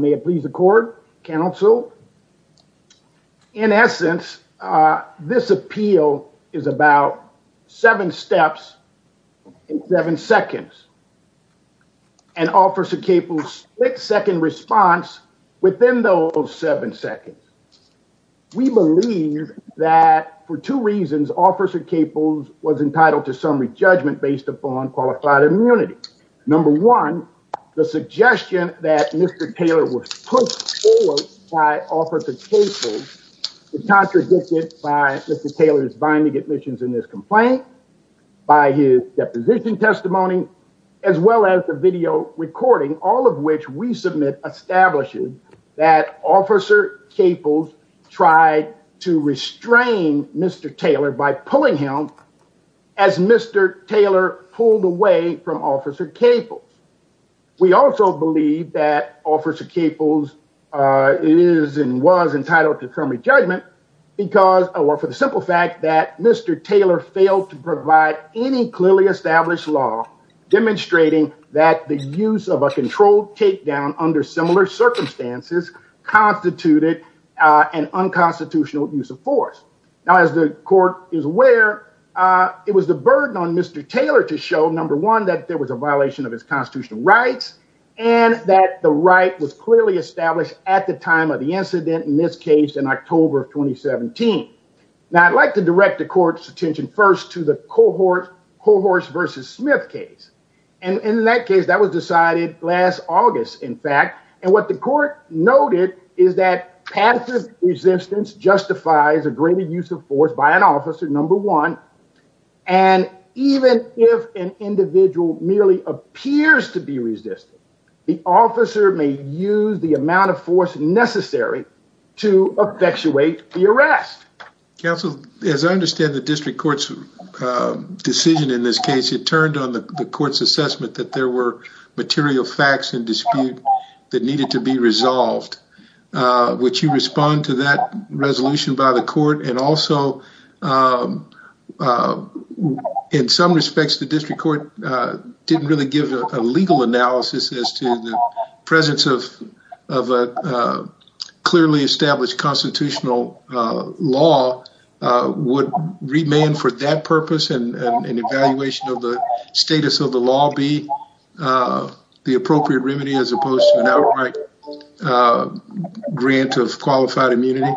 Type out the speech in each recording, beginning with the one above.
May it please the court, counsel. In essence, this appeal is about seven steps in seven seconds, and Officer Caple's six-second response within those seven seconds. We believe that for two reasons Officer Caples was entitled to summary judgment based upon qualified immunity. Number one, the suggestion that Mr. Taylor was pushed forward by Officer Caples is contradicted by Mr. Taylor's binding admissions in this complaint, by his deposition testimony, as well as the video recording, all of which we submit establishes that Officer Caples tried to restrain Mr. Taylor by pulling him as Mr. Taylor pulled away from Officer Caples. We also believe that Officer Caples is and was entitled to summary judgment because or for the simple fact that Mr. Taylor failed to provide any clearly established law demonstrating that the use of a controlled takedown under similar circumstances constituted an unconstitutional use of force. Now, as the court is aware, it was the burden on Mr. Taylor to show, number one, that there was a violation of his constitutional rights and that the right was clearly established at the time of the incident in this case in October of 2017. Now, I'd like to direct the court's attention first to the cohort Cohorts v. Smith case. And in that case that was decided last August, in fact, and what the court noted is that passive resistance justifies a greater use of force by an officer, number one, and even if an individual merely appears to be resistant, the officer may use the amount of force necessary to effectuate the arrest. Counsel, as I understand the district court's decision in this case, it turned on the court's assessment that there were material facts and resolved. Would you respond to that resolution by the court? And also, in some respects, the district court didn't really give a legal analysis as to the presence of a clearly established constitutional law would remain for that purpose and evaluation of the right grant of qualified immunity?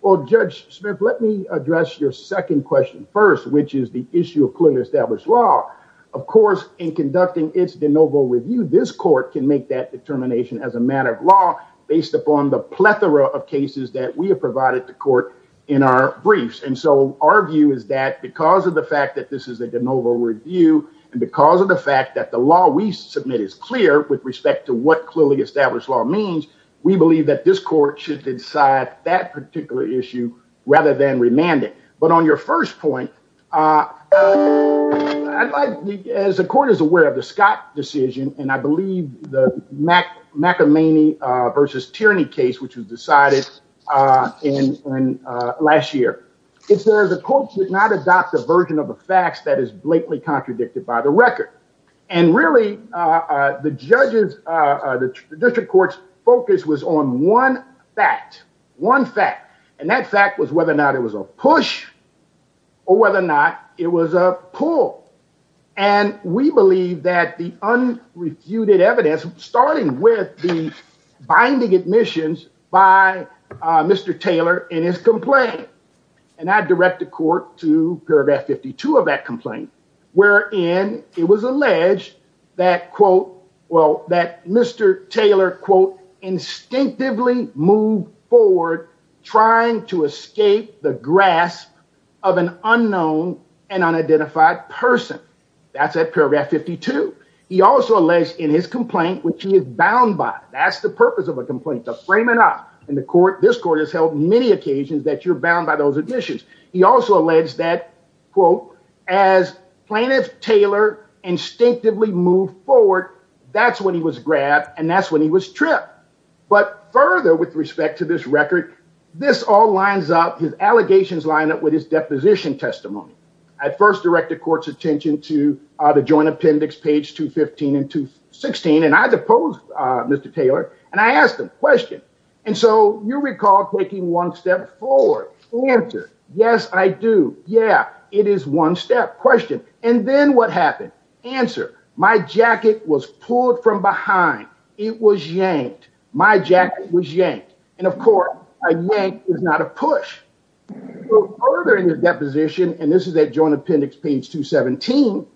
Well, Judge Smith, let me address your second question first, which is the issue of clearly established law. Of course, in conducting its de novo review, this court can make that determination as a matter of law based upon the plethora of cases that we have provided the court in our briefs. And so our view is that because of the fact that this is a de novo review and because of the fact that the law we submit is clear with respect to what clearly established law means, we believe that this court should decide that particular issue rather than remand it. But on your first point, as the court is aware of the Scott decision and I believe the McAmey versus Tierney case, which was decided in last year, it says the court should not adopt a version of the facts that is blatantly contradicted by the record. And really, the judges, the district court's focus was on one fact, one fact, and that fact was whether or not it was a push or whether or not it was a pull. And we believe that the unrefuted evidence, starting with the binding admissions by Mr. Taylor in his complaint, and I direct the court to that Mr. Taylor, quote, instinctively moved forward trying to escape the grasp of an unknown and unidentified person. That's at paragraph 52. He also alleged in his complaint, which he is bound by, that's the purpose of a complaint, to frame it up. And this court has held many occasions that you're bound by those admissions. He also alleged that, quote, as plaintiff Taylor instinctively moved forward, that's when he was grabbed and that's when he was tripped. But further, with respect to this record, this all lines up, his allegations line up with his deposition testimony. I first direct the court's attention to the joint appendix, page 215 and 216, and I deposed Mr. Taylor and I asked him a question. And so you recall taking one step forward. Answer. Yes, I do. Yeah, it is one step. Question. And then what happened? Answer. My jacket was pulled from behind. It was yanked. My jacket was yanked. And of course, a yank is not a push. Further in the deposition, and this is at joint appendix, page 217,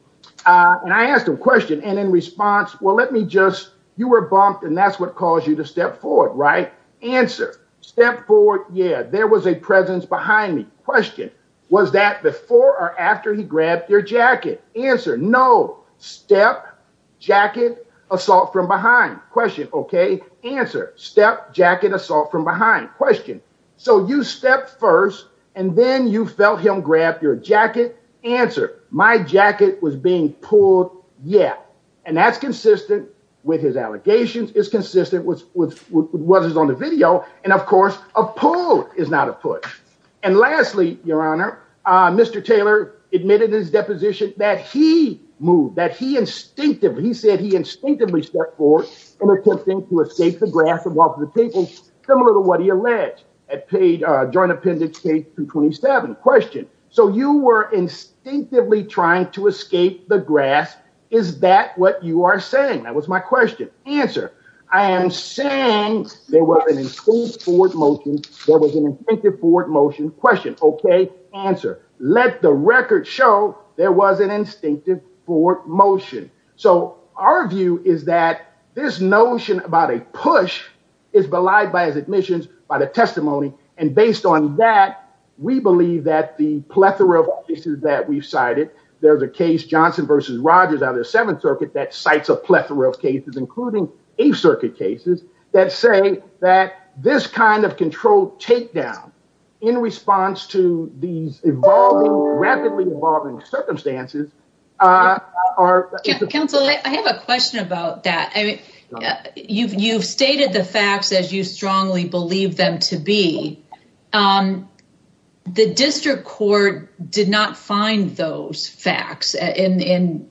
and I asked him a question. And in response, well, let me just, you were bumped and that's caused you to step forward, right? Answer. Step forward. Yeah. There was a presence behind me. Question. Was that before or after he grabbed your jacket? Answer. No. Step, jacket, assault from behind. Question. Okay. Answer. Step, jacket, assault from behind. Question. So you step first and then you felt him grab your jacket. Answer. My jacket was being pulled. Yeah. And that's consistent with his allegations. It's consistent with what was on the video. And of course, a pull is not a push. And lastly, your honor, Mr. Taylor admitted in his deposition that he moved, that he instinctively, he said he instinctively stepped forward in attempting to escape the grasp of lots of people, similar to what he alleged at paid, joint appendix page 227. Question. So you were instinctively trying to escape the grasp. Is that what you are saying? That was my question. Answer. I am saying there was an instinctive forward motion. There was an instinctive forward motion. Question. Okay. Answer. Let the record show there was an instinctive forward motion. So our view is that this notion about a push is belied by his admissions, by the testimony. And based on that, we believe that the plethora of cases that we've cited, there's a case Johnson versus Rogers out of the seventh circuit that cites a plethora of cases, including a circuit cases that say that this kind of control takedown in response to these evolving, rapidly evolving circumstances. Answer. Counselor, I have a question about that. You've stated the facts as you strongly believe them to be. The district court did not find those facts, even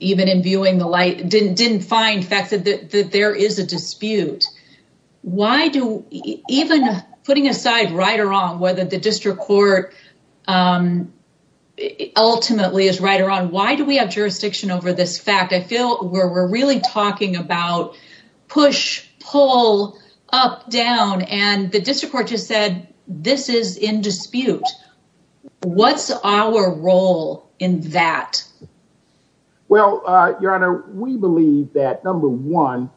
in viewing the light, didn't find facts that there is a dispute. Why do, even putting aside right or wrong, whether the district court ultimately is right or wrong, why do we have jurisdiction over this fact? I feel where we're really talking about push, pull, up, down, and the district court just said, this is in dispute. What's our role in that? Well, your honor, we believe that number one,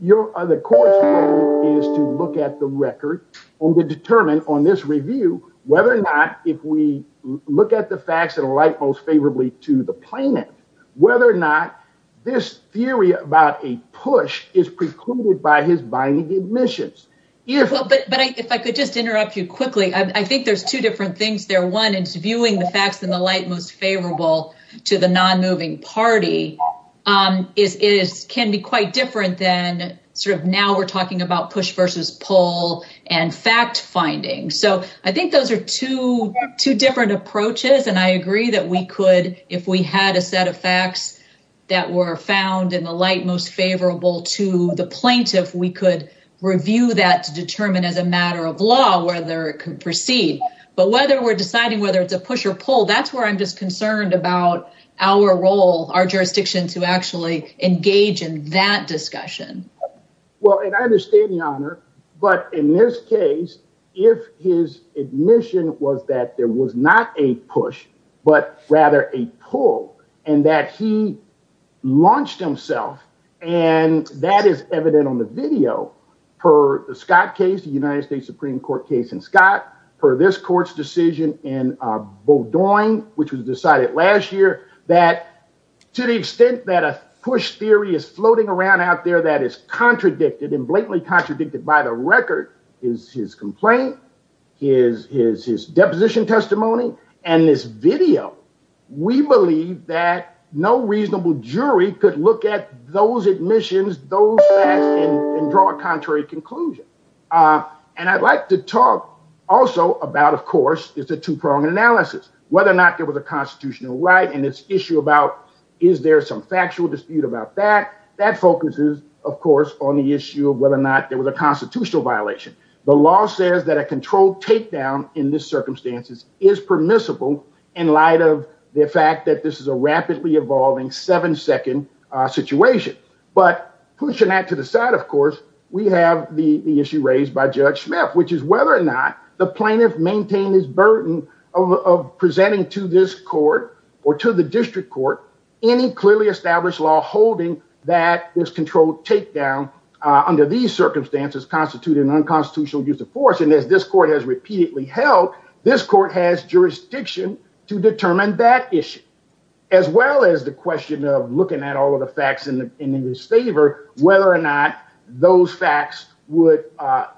the court's role is to look at the record or to determine on this review, whether or not, if we look at the facts that are light most favorably to the plaintiff, whether or not this theory about a push is precluded by his binding admissions. But if I could just interrupt you quickly, I think there's two different things there. One is viewing the facts in the light most favorable to the non-moving party can be quite different than sort of now we're talking about two different approaches. And I agree that we could, if we had a set of facts that were found in the light most favorable to the plaintiff, we could review that to determine as a matter of law, whether it could proceed, but whether we're deciding whether it's a push or pull, that's where I'm just concerned about our role, our jurisdiction to actually engage in that discussion. Well, and I understand the honor, but in this case, if his admission was that there was not a push, but rather a pull and that he launched himself and that is evident on the video per the Scott case, the United States Supreme Court case in Scott, for this court's decision in Bordeaux, which was decided last year, that to the extent that a push theory is floating around out there that is contradicted and blatantly contradicted by the record is his complaint, is his deposition testimony, and this video, we believe that no reasonable jury could look at those admissions, those facts, and draw a contrary conclusion. And I'd like to talk also about, of course, it's a two-pronged analysis, whether or not there was a constitutional right in this issue about is there some factual dispute about that. That focuses, of course, on the issue of whether or not there was a constitutional violation. The law says that a controlled takedown in this circumstances is permissible in light of the fact that this is a rapidly evolving seven-second situation. But pushing that to the side, of course, we have the issue raised by Judge Schmiff, which is whether or not the plaintiff maintained his court or to the district court any clearly established law holding that this controlled takedown under these circumstances constituted an unconstitutional use of force. And as this court has repeatedly held, this court has jurisdiction to determine that issue, as well as the question of looking at all of the facts in his favor, whether or not those facts would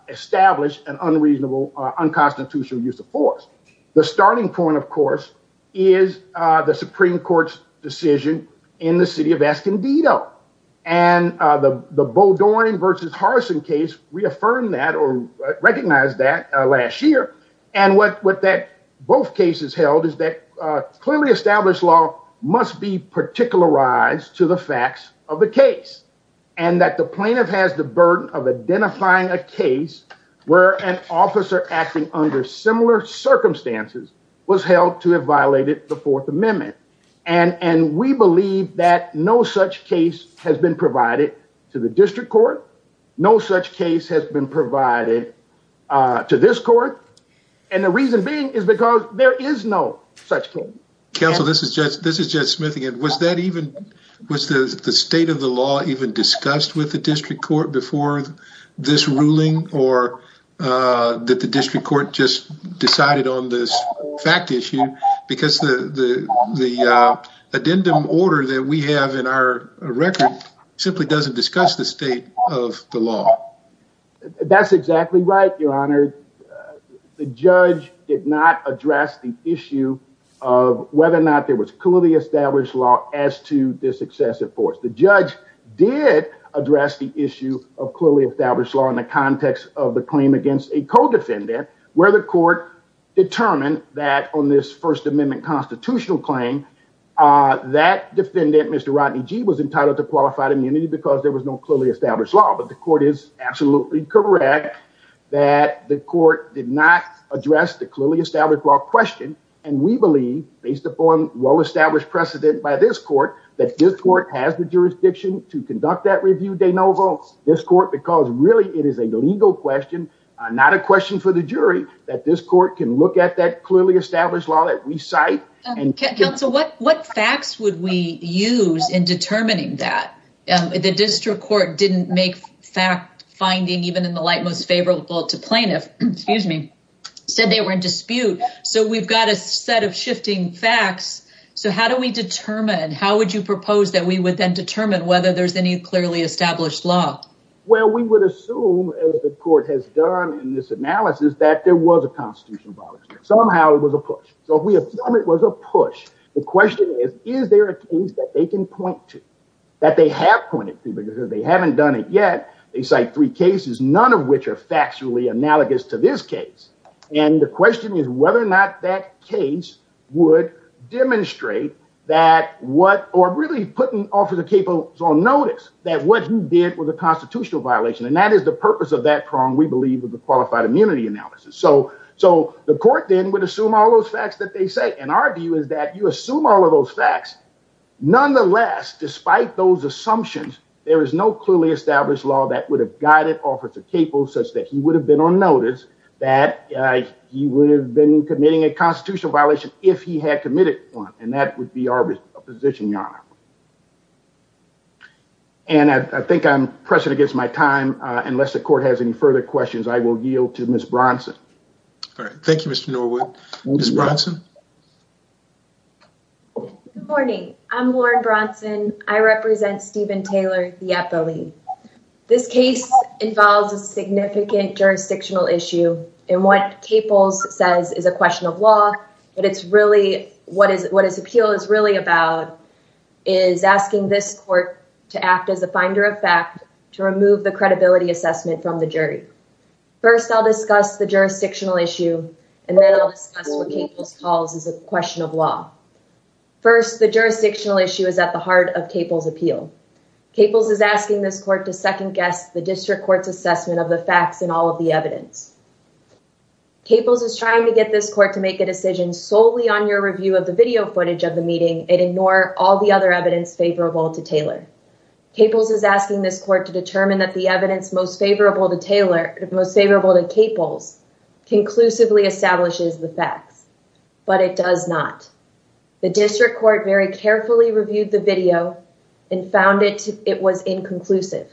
establish an unreasonable unconstitutional use of force. The starting point, of course, is the Supreme Court's decision in the city of Escondido. And the Beaudoin v. Harrison case reaffirmed that or recognized that last year. And what that both cases held is that clearly established law must be particularized to the facts of the case, and that the plaintiff has the burden of identifying a case where an officer acting under similar circumstances was held to have violated the Fourth Amendment. And we believe that no such case has been provided to the district court. No such case has been provided to this court. And the reason being is because there is no such thing. Counsel, this is Judge Schmiff again. Was the state of the law even discussed with the district court before this ruling, or did the district court just decide it on this fact issue? Because the addendum order that we have in our record simply doesn't discuss the state of the law. That's exactly right, Your Honor. The judge did not address the issue of whether or not there was clearly established law as to this excessive force. The judge did address the issue of clearly established law in the context of the claim against a co-defendant, where the court determined that on this First Amendment constitutional claim, that defendant, Mr. Rodney Gee, was entitled to qualified immunity because there was no clearly established law. But the court is absolutely correct that the court did not address the clearly established law question. And we believe, based upon well-established precedent by this court, that this court has the jurisdiction to conduct that review de novo, this court, because really it is a legal question, not a question for the jury, that this court can look at that clearly established law that we cite. Counsel, what facts would we use in determining that? The district court didn't make fact-finding even in the light most favorable to plaintiff, excuse me, said they were in dispute. So we've got a set of shifting facts. So how do we determine, how would you propose that we would determine whether there's any clearly established law? Well, we would assume, as the court has done in this analysis, that there was a constitutional violation. Somehow it was a push. So if we assume it was a push, the question is, is there a case that they can point to, that they have pointed to, because if they haven't done it yet, they cite three cases, none of which are factually analogous to this case. And the question is whether or not that case would demonstrate that what, or really putting Officer Capo on notice that what he did was a constitutional violation. And that is the purpose of that prong, we believe, of the qualified immunity analysis. So the court then would assume all those facts that they say and argue is that you assume all of those facts. Nonetheless, despite those assumptions, there is no clearly established law that would have guided Officer Capo such that he would have been on notice that he would have been committing a crime. And I think I'm pressing against my time. Unless the court has any further questions, I will yield to Ms. Bronson. All right. Thank you, Mr. Norwood. Ms. Bronson? Good morning. I'm Lauren Bronson. I represent Stephen Taylor, the Epoly. This case involves a significant jurisdictional issue. And what Capo says is a question of law, but it's really, what his appeal is really about is asking this court to act as a finder of fact to remove the credibility assessment from the jury. First, I'll discuss the jurisdictional issue, and then I'll discuss what Capo's calls is a question of law. First, the jurisdictional issue is at the heart of Capo's appeal. Capo's is asking this court to second guess the district court's assessment of the facts and all of the evidence. Capo's is trying to get this court to make a decision solely on your review of the video footage of the meeting and ignore all the other evidence favorable to Taylor. Capo's is asking this court to determine that the evidence most favorable to Taylor, most favorable to Capo's conclusively establishes the facts, but it does not. The district court very carefully reviewed the video and found it was inconclusive.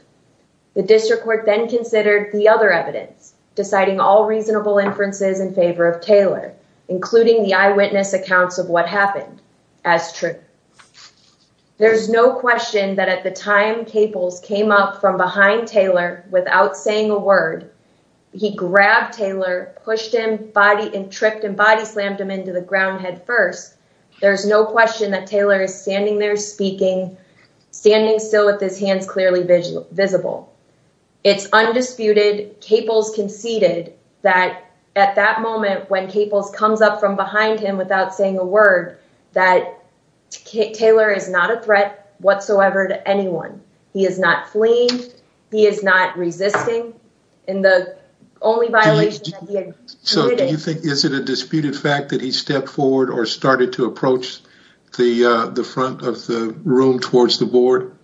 The district court then considered the other evidence, deciding all reasonable inferences in favor of Taylor, including the eyewitness accounts of what happened as true. There's no question that at the time Capo's came up from behind Taylor without saying a word, he grabbed Taylor, pushed him body and tripped and body slammed him into the ground head first. There's no question that Taylor is standing there speaking, standing still with his hands clearly visible. It's undisputed Capo's conceded that at that moment when Capo's comes up from behind him without saying a word, that Taylor is not a threat whatsoever to anyone. He is not fleeing. He is not resisting in the only violation. So do you think, is it a disputed fact that he stepped forward or started to approach the front of the room towards the board?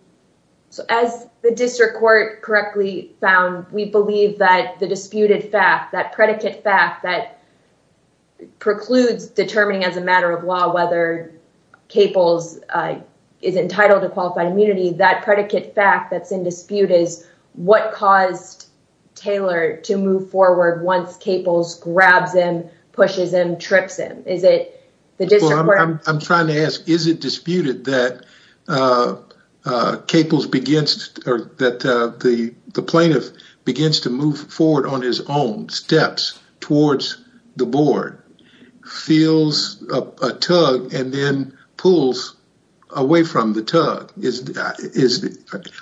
So as the district court correctly found, we believe that the disputed fact, that predicate fact that precludes determining as a matter of law, whether Capo's is entitled to qualified immunity, that predicate fact that's in dispute is what caused Taylor to move forward once Capo's grabs him, pushes him, trips him? Well, I'm trying to ask, is it disputed that Capo's begins or that the plaintiff begins to move forward on his own steps towards the board, feels a tug and then pulls away from the tug?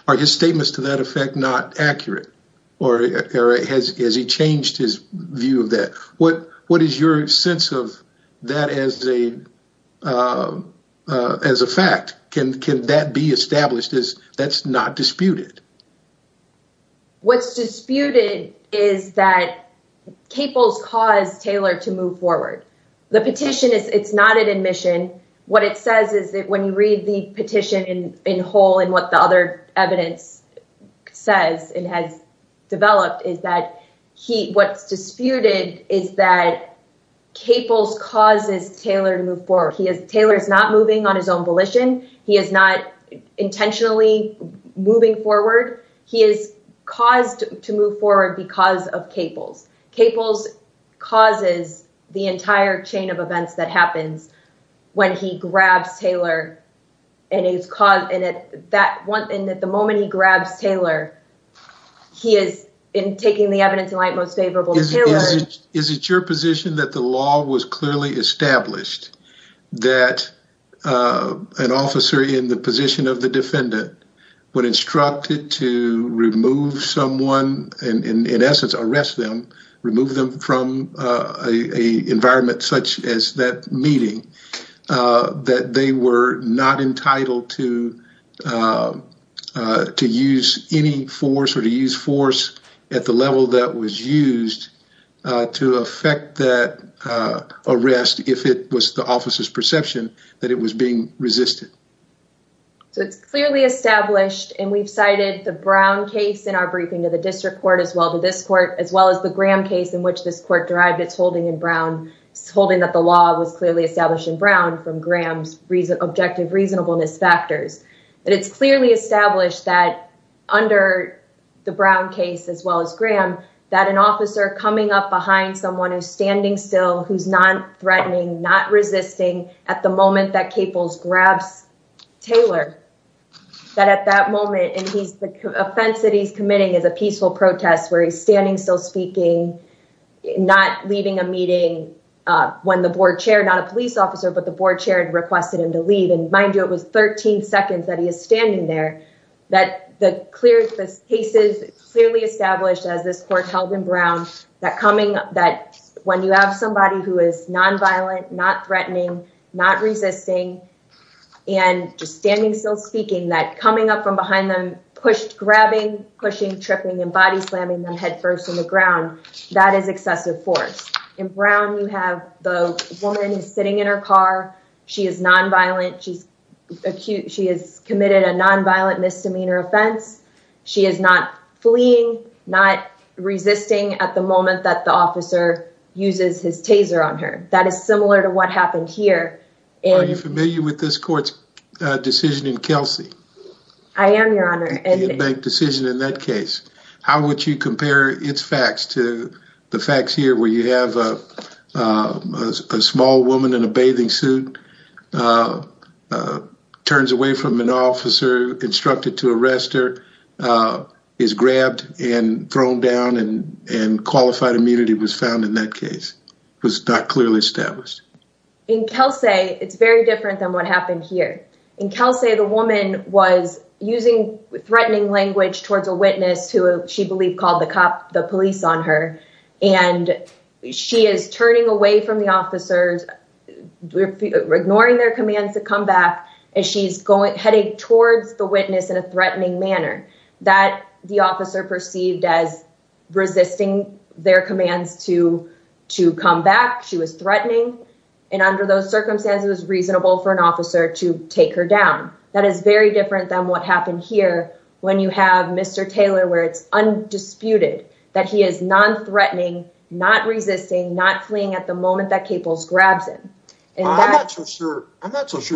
Are his statements to that effect not accurate or has he changed his view of that? What is your sense of that as a fact? Can that be established as that's not disputed? What's disputed is that Capo's caused Taylor to move forward. The petition is, it's not an admission. What it says is that when you read the petition in whole and what the other evidence says and has developed is that what's disputed is that Capo's causes Taylor to move forward. He is, Taylor is not moving on his own volition. He is not intentionally moving forward. He is caused to move forward because of Capo's. Capo's causes the entire chain of events that happens when he grabs Taylor and he's caught in it that one. And at the moment he grabs Taylor, he is in taking the evidence in light most favorable. Is it your position that the law was clearly established that an officer in the position of the defendant when instructed to remove someone and in essence, arrest them, remove them from a environment such as that meeting, that they were not entitled to use any force or to use force at the level that was used to affect that arrest if it was the officer's perception that it was being resisted? It's clearly established and we've cited the Brown case in our briefing to the district court as well to this court, as well as the Graham case in which this court derived it's holding in Brown. It's holding that the law was clearly established in Brown from Graham's reason, objective reasonableness factors, but it's clearly established that under the Brown case, as well as Graham, that an officer coming up behind someone who's standing still, who's not threatening, not resisting at the moment that Capo's grabs Taylor that at that moment, and he's the offense that he's committing is a peaceful protest where he's standing, still speaking, not leaving a meeting when the board chair, not a police officer, but the board chair had requested him to leave. And mind you, it was 13 seconds that he is standing there, that the clear cases clearly established as this court held in Brown, that coming up, that when you have somebody who is nonviolent, not threatening, not resisting, and just standing, still speaking, that coming up from behind them, pushed, grabbing, pushing, tripping and body slamming them head first on the ground, that is excessive force. In Brown, you have the woman is sitting in her car. She is nonviolent. She's acute. She has committed a nonviolent misdemeanor offense. She is not fleeing, not resisting at the moment that the officer uses his taser on her. That is similar to what happened here. Are you familiar with this court's decision in Kelsey? I am, Your Honor. The bank decision in that case. How would you compare its facts to the facts here where you have a small woman in a bathing suit, turns away from an officer, instructed to arrest her, is grabbed and thrown down, and qualified immunity was found in that case, was not clearly established. In Kelsey, it's very different than what happened here. In Kelsey, the woman was using threatening language towards a witness who she believed called the police on her. She is turning away from the officers, ignoring their commands to come back. She's heading towards the witness in a threatening manner that the officer perceived as resisting their commands to come back. She was reasonable for an officer to take her down. That is very different than what happened here when you have Mr. Taylor, where it's undisputed that he is non-threatening, not resisting, not fleeing at the moment that Caples grabs him. I'm not so sure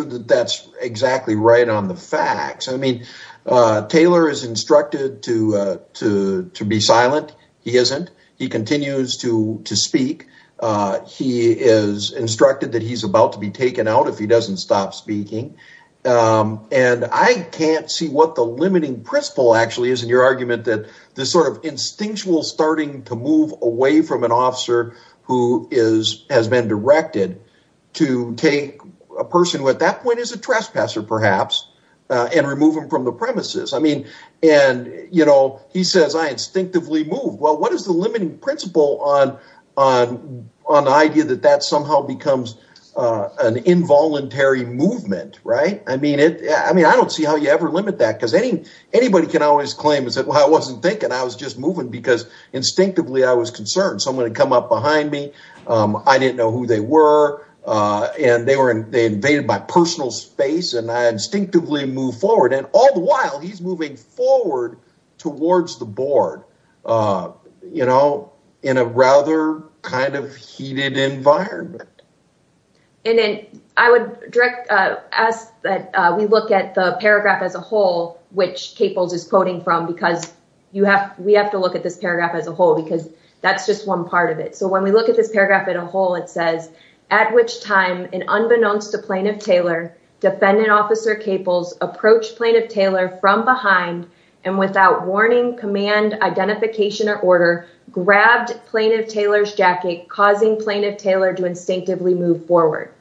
that that's exactly right on the facts. Taylor is instructed to be silent. He isn't. He continues to speak. He is instructed that he's about to be taken out if he doesn't stop speaking. I can't see what the limiting principle actually is in your argument that this sort of instinctual starting to move away from an officer who has been directed to take a person who at that point is a trespasser, perhaps, and remove him from the premises. And he says, I instinctively move. Well, what is the limiting principle on the idea that that somehow becomes an involuntary movement? I don't see how you ever limit that because anybody can always claim and say, well, I wasn't thinking. I was just moving because instinctively, I was concerned. Someone had come up behind me. I didn't know who they were. And they invaded my personal space and I instinctively move forward. And all the while he's moving forward towards the board, you know, in a rather kind of heated environment. And then I would direct us that we look at the paragraph as a whole, which Caples is quoting from, because you have we have to look at this paragraph as a whole, because that's just one part of it. So when we look at this paragraph as a whole, it says, at which time, and unbeknownst to Plaintiff Taylor, defendant officer Caples approached Plaintiff Taylor from behind and without warning, command, identification or order grabbed Plaintiff Taylor's jacket, causing Plaintiff Taylor to instinctively move forward.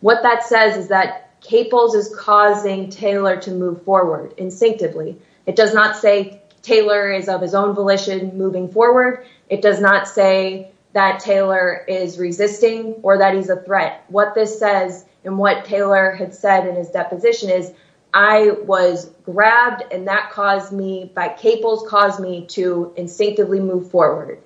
What that says is that Caples is causing Taylor to move forward instinctively. It does not say Taylor is of his own volition moving forward. It does not say that Taylor is resisting or that he's a threat. What this says and what Taylor had said in his deposition is, I was grabbed and that caused me by Caples caused me to instinctively move forward.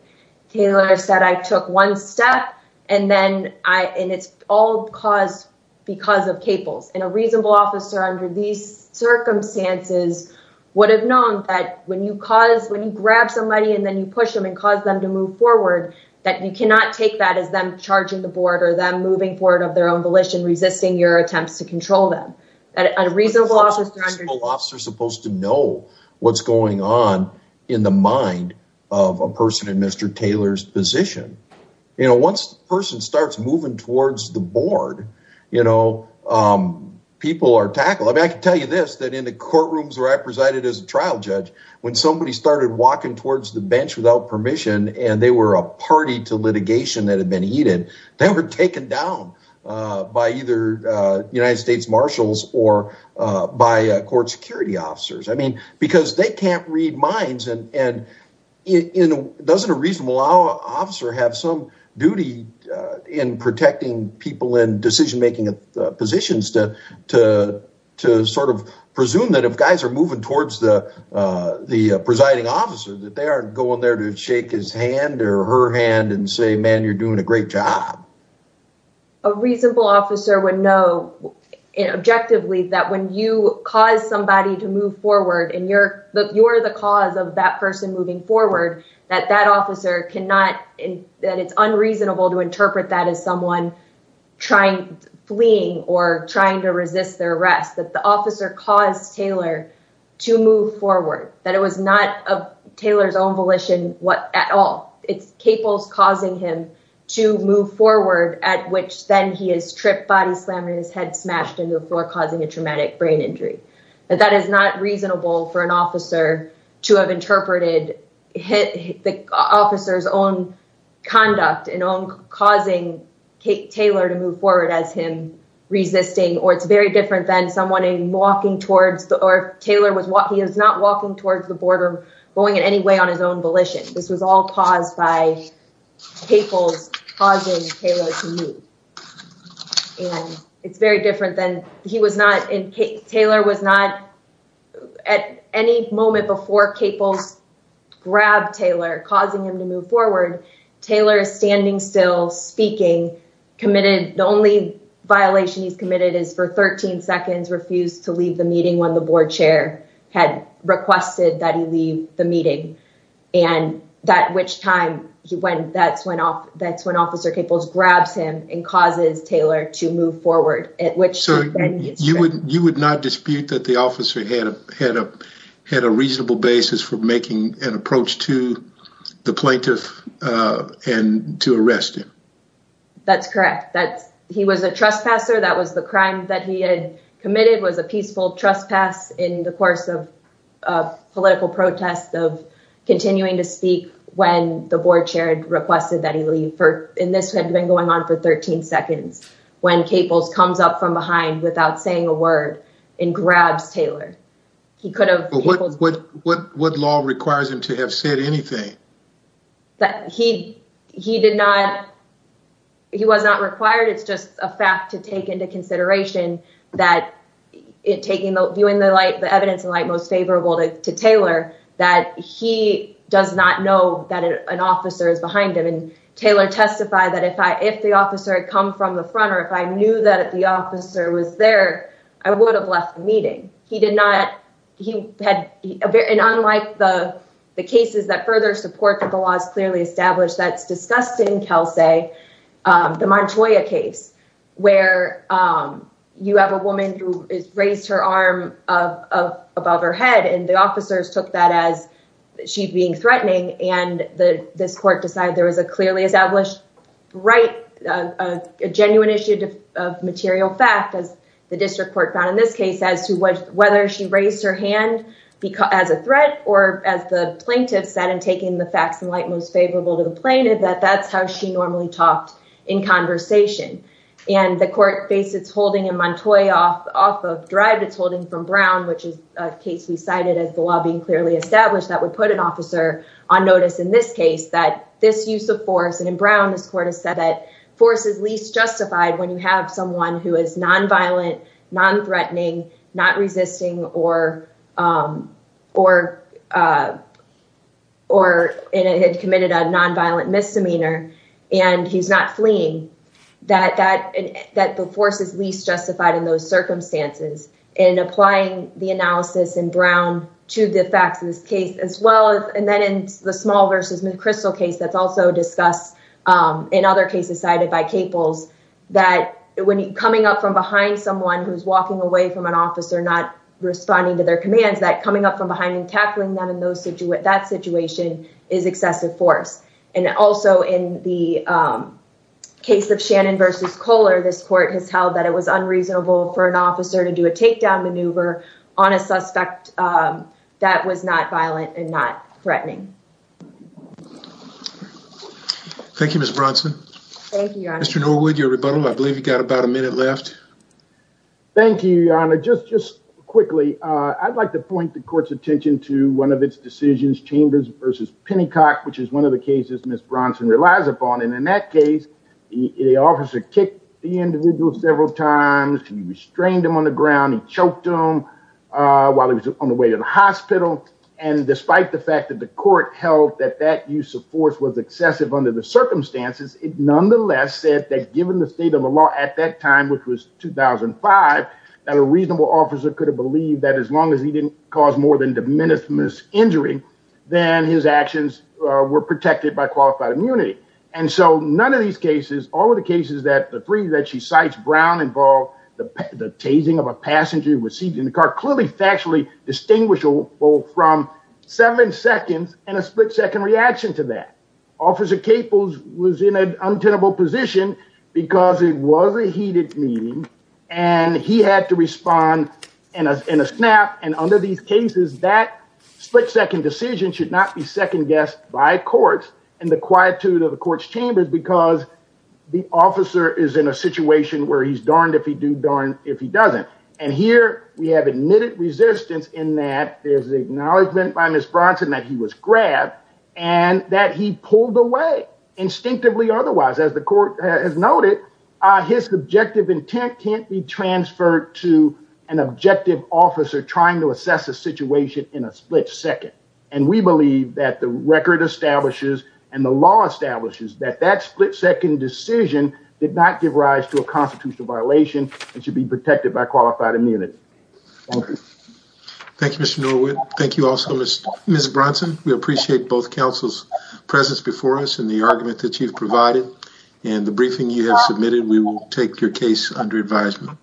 Taylor said I took one step and then I and it's all caused because of Caples and a reasonable officer under these circumstances would have known that when you cause when you grab somebody and then you push them and cause them to move forward, that you cannot take that as them charging the board or them moving forward of their own volition, resisting your attempts to control them. A reasonable officer is supposed to know what's going on in the mind of a person in Mr. Taylor's position. Once the person starts moving towards the board, people are tackled. I can tell you this, that in the courtrooms where I presided as a trial judge, when somebody started walking towards the bench without permission and they were a party to litigation that had been heeded, they were taken down by either United States marshals or by court security officers. I mean, because they can't read minds and doesn't a reasonable officer have some duty in protecting people in decision-making positions to sort of presume that if guys are moving towards the presiding officer, that they aren't going there to shake his hand or her hand and say, man, you're doing a great job. A reasonable officer would know objectively that when you cause somebody to move forward and you're the cause of that person moving forward, that that officer cannot, that it's unreasonable to interpret that as someone fleeing or trying to resist their arrest, that the officer caused Taylor to move forward, that it was not Taylor's own volition at all. It's capos causing him to move forward at which then he is tripped, body slammed in his head, smashed into the floor, causing a traumatic brain injury. That that is not reasonable for an officer to have interpreted the officer's own conduct and own causing Taylor to move forward as him resisting, or it's very different than someone walking towards the, or Taylor was walking, he was not walking towards the border, going in any way on his own volition. This was all caused by capos causing Taylor to move. And it's very different than he was not in, Taylor was not at any moment before capos grabbed Taylor, causing him to move forward. Taylor is standing still speaking, committed. The only violation he's committed is for 13 seconds, refused to leave the meeting when the board chair had requested that he leave the meeting. And that which time he went, that's when off, that's when officer capos grabs him and causes Taylor to move forward at which you would, you would not dispute that the officer had a, had a, had a reasonable basis for making an approach to the plaintiff and to arrest him. That's correct. That's, he was a trespasser. That was the crime that he had committed was a peaceful trespass in the course of a political protest of continuing to speak when the board chair had requested that he leave for, and this had been going on for 13 seconds when capos comes up from behind without saying a word and grabs Taylor. He could have, what, what, what law requires him to have said anything? That he, he did not, he was not required. It's just a fact to take into consideration that it taking the viewing the light, the evidence in light, most favorable to Taylor, that he does not know that an officer is behind him. And Taylor testified that if I, if the officer had come from the front or if I knew that the officer was there, I would have left the he had an unlike the, the cases that further support that the law is clearly established. That's discussed in Kelsey the Montoya case where you have a woman who raised her arm of, of above her head. And the officers took that as she'd being threatening. And the, this court decided there was a clearly established, right. A genuine issue of material fact as the district court found in this case as to whether she raised her hand because as a threat, or as the plaintiff said, and taking the facts in light, most favorable to the plaintiff, that that's how she normally talked in conversation. And the court face it's holding a Montoya off of drive. It's holding from Brown, which is a case we cited as the law being clearly established that would put an officer on notice in this case, that this use of force. And in Brown, this court has said that force is least justified when you have someone who is non-violent, non-threatening, not resisting, or, or, or, and it had committed a non-violent misdemeanor and he's not fleeing that, that, that the force is least justified in those circumstances and applying the analysis in Brown to the facts of this case, as well as, and then in the small versus McChrystal case, that's also discussed in other cases cited by Caples, that when coming up from behind someone who's walking away from an officer, not responding to their commands, that coming up from behind and tackling them in those situations, that situation is excessive force. And also in the case of Shannon versus Kohler, this court has held that it was unreasonable for an officer to do a takedown maneuver on a suspect that was not violent and not threatening. Thank you, Ms. Bronson. Mr. Norwood, your rebuttal, I believe you got about a minute left. Thank you, Your Honor. Just, just quickly, I'd like to point the court's attention to one of its decisions, Chambers versus Pennycock, which is one of the cases Ms. Bronson relies upon. And in that case, the officer kicked the individual several times, he restrained him on the ground, he choked him while he was on the way to the hospital. And despite the fact that the court held that that use of force was excessive under the circumstances, it nonetheless said that, given the state of the law at that time, which was 2005, that a reasonable officer could have believed that as long as he didn't cause more than de minimis injury, then his actions were protected by qualified immunity. And so none of these cases, all of the cases that the three that she cites, Brown involved, the tasing of a passenger who was seated in the car, clearly factually distinguishable from seven seconds and a split-second reaction to that. Officer Capel was in an untenable position because it was a heated meeting and he had to respond in a snap. And under these cases, that split-second decision should not be second-guessed by courts and the he's darned if he do, darned if he doesn't. And here we have admitted resistance in that there's an acknowledgment by Ms. Bronson that he was grabbed and that he pulled away instinctively otherwise. As the court has noted, his objective intent can't be transferred to an objective officer trying to assess a situation in a split second. And we believe that the record establishes and the law establishes that that split-second decision did not give rise to a constitutional violation and should be protected by qualified immunity. Thank you. Thank you, Mr. Norwood. Thank you also, Ms. Bronson. We appreciate both counsel's presence before us and the argument that you've provided and the briefing you have submitted. We will take your case under advisement.